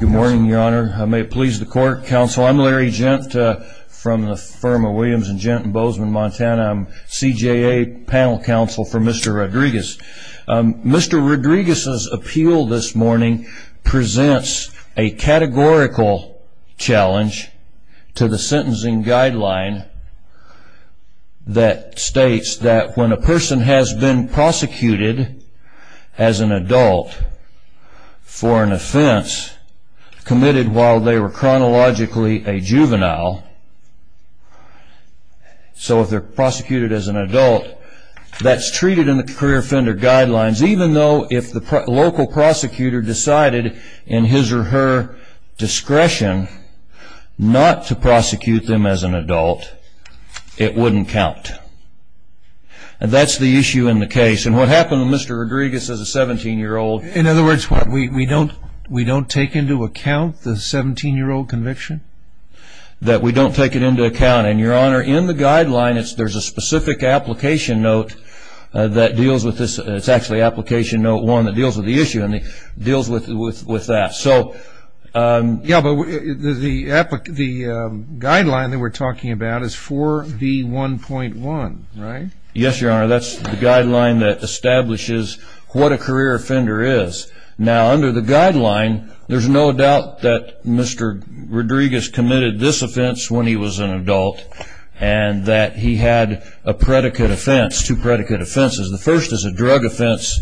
Good morning your honor. I may please the court counsel. I'm Larry Gent from the firm of Williams and Gent in Bozeman, Montana. I'm CJA panel counsel for Mr. Rodriguez. Mr. Rodriguez's appeal this morning presents a categorical challenge to the sentencing guideline that states that when a person has been prosecuted as an adult for an offense committed while they were chronologically a juvenile, so if they're prosecuted as an adult that's treated in the career offender guidelines even though if the local prosecutor decided in his or her discretion not to prosecute them as an adult it wouldn't count. And that's the Mr. Rodriguez as a 17 year old. In other words what we don't we don't take into account the 17 year old conviction? That we don't take it into account and your honor in the guideline it's there's a specific application note that deals with this it's actually application note one that deals with the issue and it deals with with with that. So yeah but the the guideline that we're talking about is 4d 1.1 right? Yes your honor that's the guideline that establishes what a career offender is. Now under the guideline there's no doubt that Mr. Rodriguez committed this offense when he was an adult and that he had a predicate offense, two predicate offenses. The first is a drug offense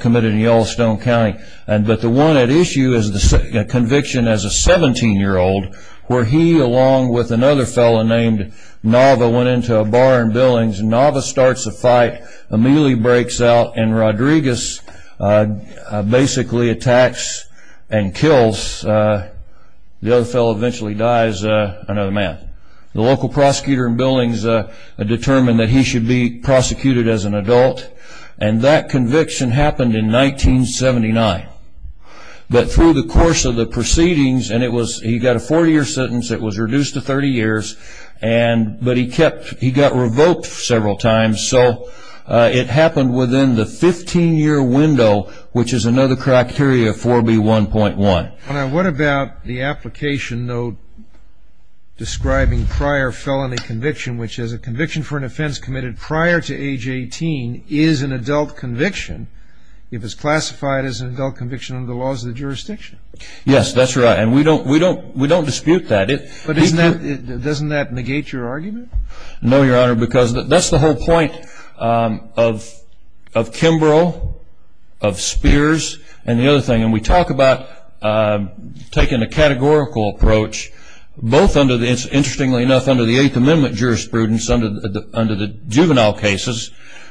committed in Yellowstone County and but the one at issue is the conviction as a 17 year old where he along with another fellow named Nava went into a bar in South and Rodriguez basically attacks and kills the other fellow eventually dies another man. The local prosecutor in Billings determined that he should be prosecuted as an adult and that conviction happened in 1979. But through the course of the proceedings and it was he got a four-year sentence it was reduced to 30 years and but he kept he got revoked several times so it happened within the 15-year window which is another criteria 4b 1.1. What about the application note describing prior felony conviction which is a conviction for an offense committed prior to age 18 is an adult conviction if it's classified as an adult conviction under the laws of the jurisdiction? Yes that's right and we don't we don't we don't dispute that it but isn't that it doesn't that negate your argument? No your honor because that's the whole point of of Kimbrough of Spears and the other thing and we talked about taking a categorical approach both under the interestingly enough under the Eighth Amendment jurisprudence under the under the juvenile cases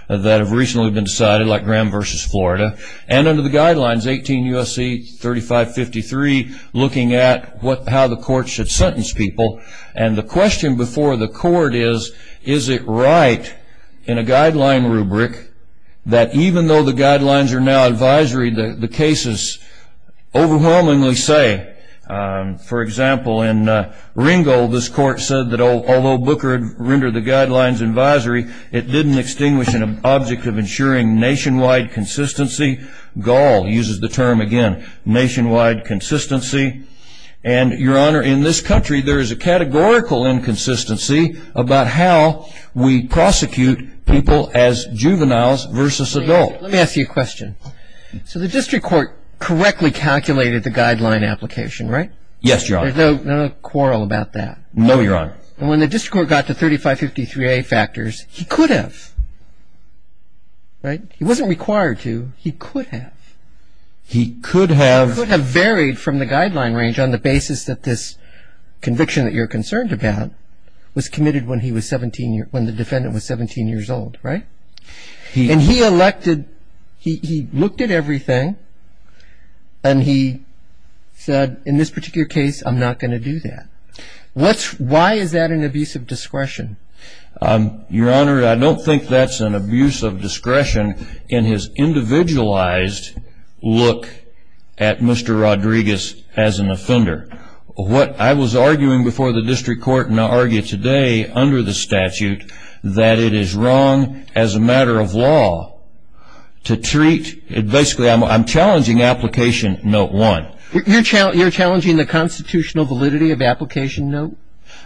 that have recently been decided like Graham versus Florida and under the guidelines 18 USC 3553 looking at what how the court should sentence people and the question before the court is is it right in a guideline rubric that even though the guidelines are now advisory the cases overwhelmingly say for example in Ringo this court said that although Booker had rendered the guidelines advisory it didn't extinguish an object of ensuring nationwide consistency. Gall uses the term again nationwide consistency and your honor in this country there is a nationwide consistency about how we prosecute people as juveniles versus adult. Let me ask you a question so the district court correctly calculated the guideline application right? Yes your honor. There's no quarrel about that? No your honor. And when the district court got to 3553a factors he could have right he wasn't required to he could have. He could have. He could have varied from the guideline range on the basis that this conviction that you're concerned about was committed when he was 17 years when the defendant was 17 years old right? He and he elected he looked at everything and he said in this particular case I'm not going to do that. What's why is that an abuse of discretion? Your honor I don't think that's an abuse of discretion in his individualized look at Mr. Rodriguez as an offender. What I was arguing before the district court and argue today under the statute that it is wrong as a matter of law to treat it basically I'm challenging application note one. You're challenging the constitutional validity of application note?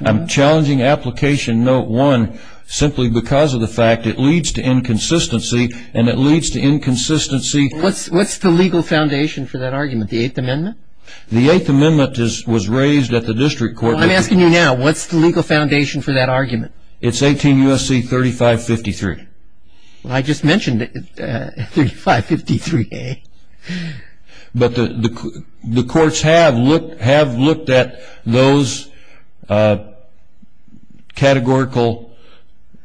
I'm challenging application note one simply because of the fact it leads to inconsistency and it leads to inconsistency. What's the legal foundation for that argument the Eighth Amendment? The Eighth Amendment was raised at the district court. I'm the legal foundation for that argument. It's 18 U.S.C. 3553. I just mentioned 3553. But the courts have looked have looked at those categorical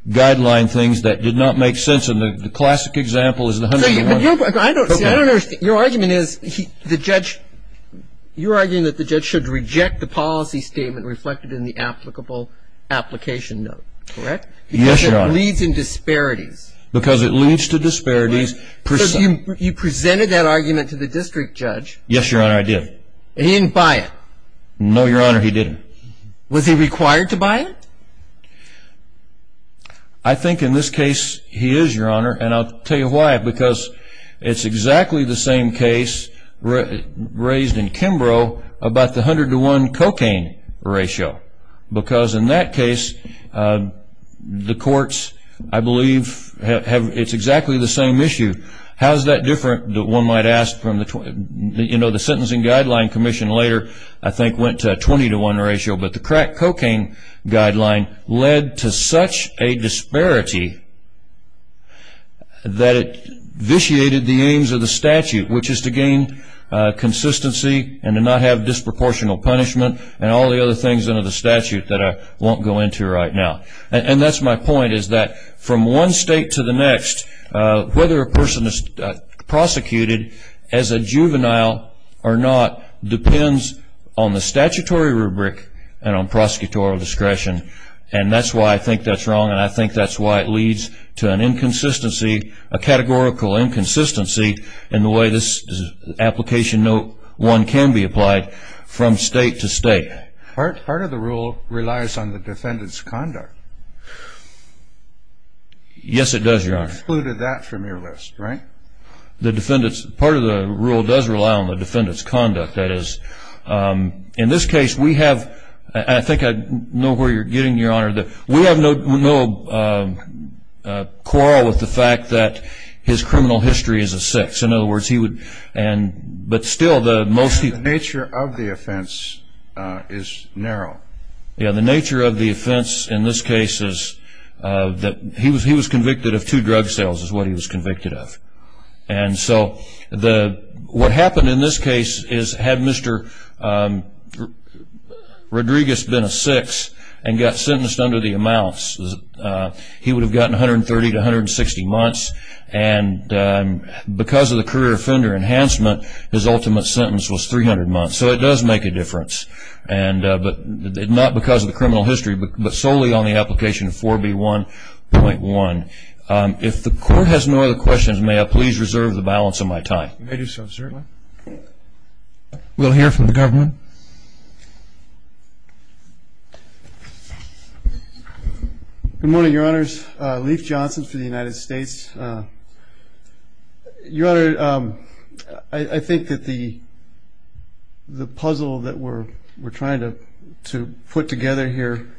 guideline things that did not make sense in the classic example is the 101. Your argument is the judge you're arguing that the judge should reject the policy statement reflected in the applicable application note correct? Yes your honor. Because it leads in disparities. Because it leads to disparities. You presented that argument to the district judge. Yes your honor I did. He didn't buy it? No your honor he didn't. Was he required to buy it? I think in this case he is your honor and I'll tell you why because it's exactly the same case raised in Kimbrough about the 100 to 1 cocaine ratio because in that case the courts I believe have it's exactly the same issue. How is that different that one might ask from the you know the Sentencing Guideline Commission later I think went to a 20 to 1 ratio but the crack cocaine guideline led to such a disparity that it vitiated the aims of the statute which is to gain consistency and to not have disproportional punishment and all the other things under the statute that I won't go into right now and that's my point is that from one state to the next whether a person is prosecuted as a juvenile or not depends on the statutory rubric and on prosecutorial discretion and that's why I think that's wrong and I think that's why it leads to an inconsistency a categorical inconsistency in the way this application no one can be applied from state to state. Part of the rule relies on the defendant's conduct. Yes it does your honor. Excluded that from your list right? The defendant's part of the rule does rely on the defendant's conduct that is in this case we have I think I know where you're getting your honor that we have no quarrel with the fact that his criminal history is a six in other words he would and but still the most nature of the offense is narrow yeah the nature of the offense in this case is that he was he was convicted of two drug sales is what he was convicted of and so the what happened in this case is had mr. Rodriguez been a six and got and because of the career offender enhancement his ultimate sentence was 300 months so it does make a difference and but not because of the criminal history but solely on the application 4b 1.1 if the court has no other questions may I please reserve the balance of my time. You may do so certainly. We'll hear from the your honor I think that the the puzzle that we're we're trying to to put together here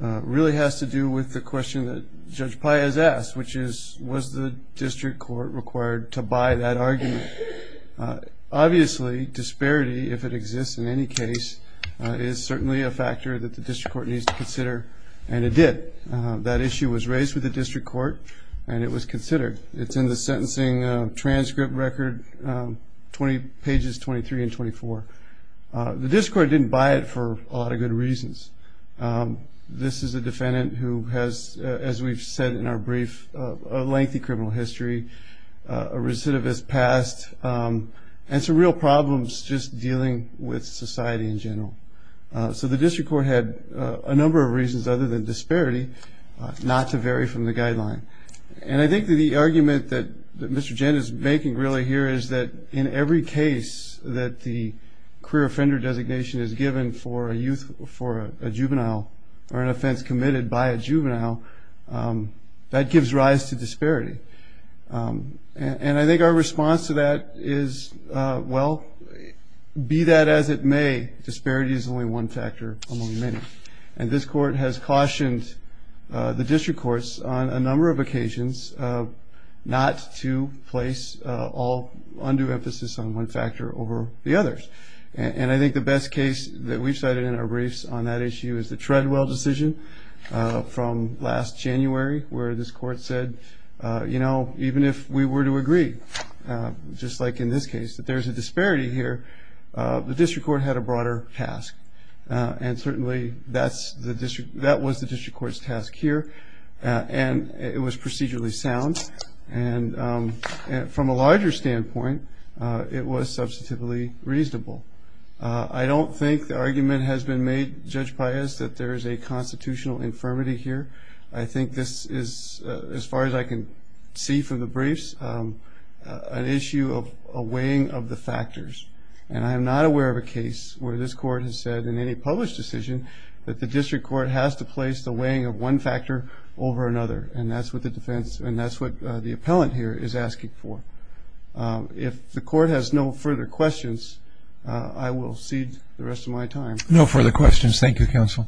really has to do with the question that Judge Pai has asked which is was the district court required to buy that argument obviously disparity if it exists in any case is certainly a factor that the district court needs to consider and it did that issue was raised with the district court and it was considered it's in the sentencing transcript record 20 pages 23 and 24 the district court didn't buy it for a lot of good reasons this is a defendant who has as we've said in our brief a lengthy criminal history a recidivist past and some real problems just dealing with society in general so the district court had a number of reasons other than disparity not to vary from the the argument that Mr. Jen is making really here is that in every case that the career offender designation is given for a youth for a juvenile or an offense committed by a juvenile that gives rise to disparity and I think our response to that is well be that as it may disparity is only one factor among many and this court has cautioned the district courts on a number of occasions not to place all under emphasis on one factor over the others and I think the best case that we've cited in our briefs on that issue is the Treadwell decision from last January where this court said you know even if we were to agree just like in this case that there's a disparity here the district court had a broader task and certainly that's the district that was the district court's task here and it was procedurally sound and from a larger standpoint it was substantively reasonable I don't think the argument has been made judge Paez that there is a constitutional infirmity here I think this is as far as I can see from the briefs an issue of a weighing of the factors and I'm not aware of a court has said in any published decision that the district court has to place the weighing of one factor over another and that's what the defense and that's what the appellant here is asking for if the court has no further questions I will cede the rest of my time. No further questions thank you counsel.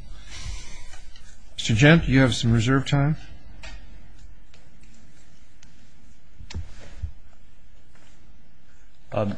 Mr. Gent you have some reserve time.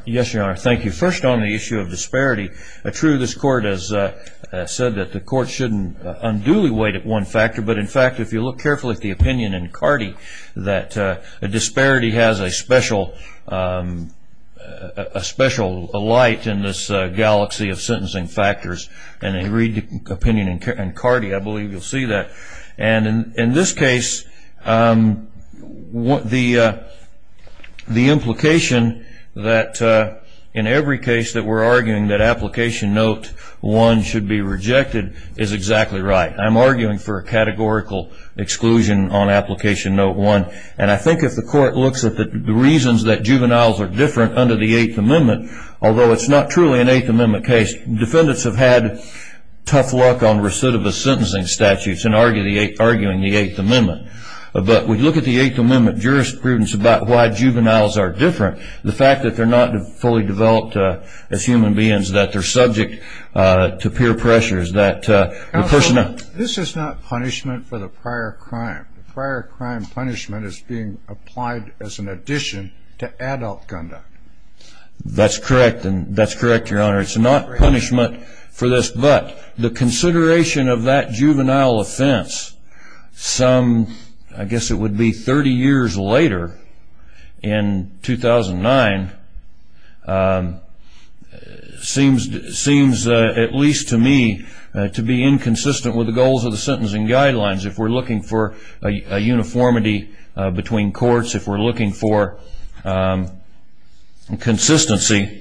Yes your honor thank you first on the issue of disparity a true this court has said that the court shouldn't unduly weight at one factor but in fact if you look carefully at the opinion in Cardi that a disparity has a special a special light in this galaxy of sentencing factors and they read the opinion in Cardi I believe you'll see that and in this case what the the implication that in every case that we're arguing that application note one should be rejected is exactly right I'm arguing for a categorical exclusion on application note one and I think if the court looks at the reasons that juveniles are different under the Eighth Amendment although it's not truly an Eighth Amendment but we look at the Eighth Amendment jurisprudence about why juveniles are different the fact that they're not fully developed as human beings that they're subject to peer pressures that the person this is not punishment for the prior crime prior crime punishment is being applied as an addition to adult conduct that's correct and that's correct your honor it's not punishment for this but the consideration of that juvenile offense some I guess it would be 30 years later in 2009 seems seems at least to me to be inconsistent with the goals of the sentencing guidelines if we're looking for a uniformity between courts if we're looking for consistency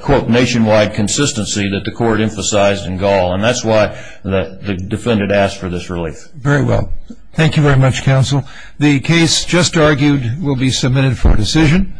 quote nationwide consistency that the court emphasized in Gaul and that's why the defendant asked for this relief very well thank you very much counsel the case just argued will be submitted for decision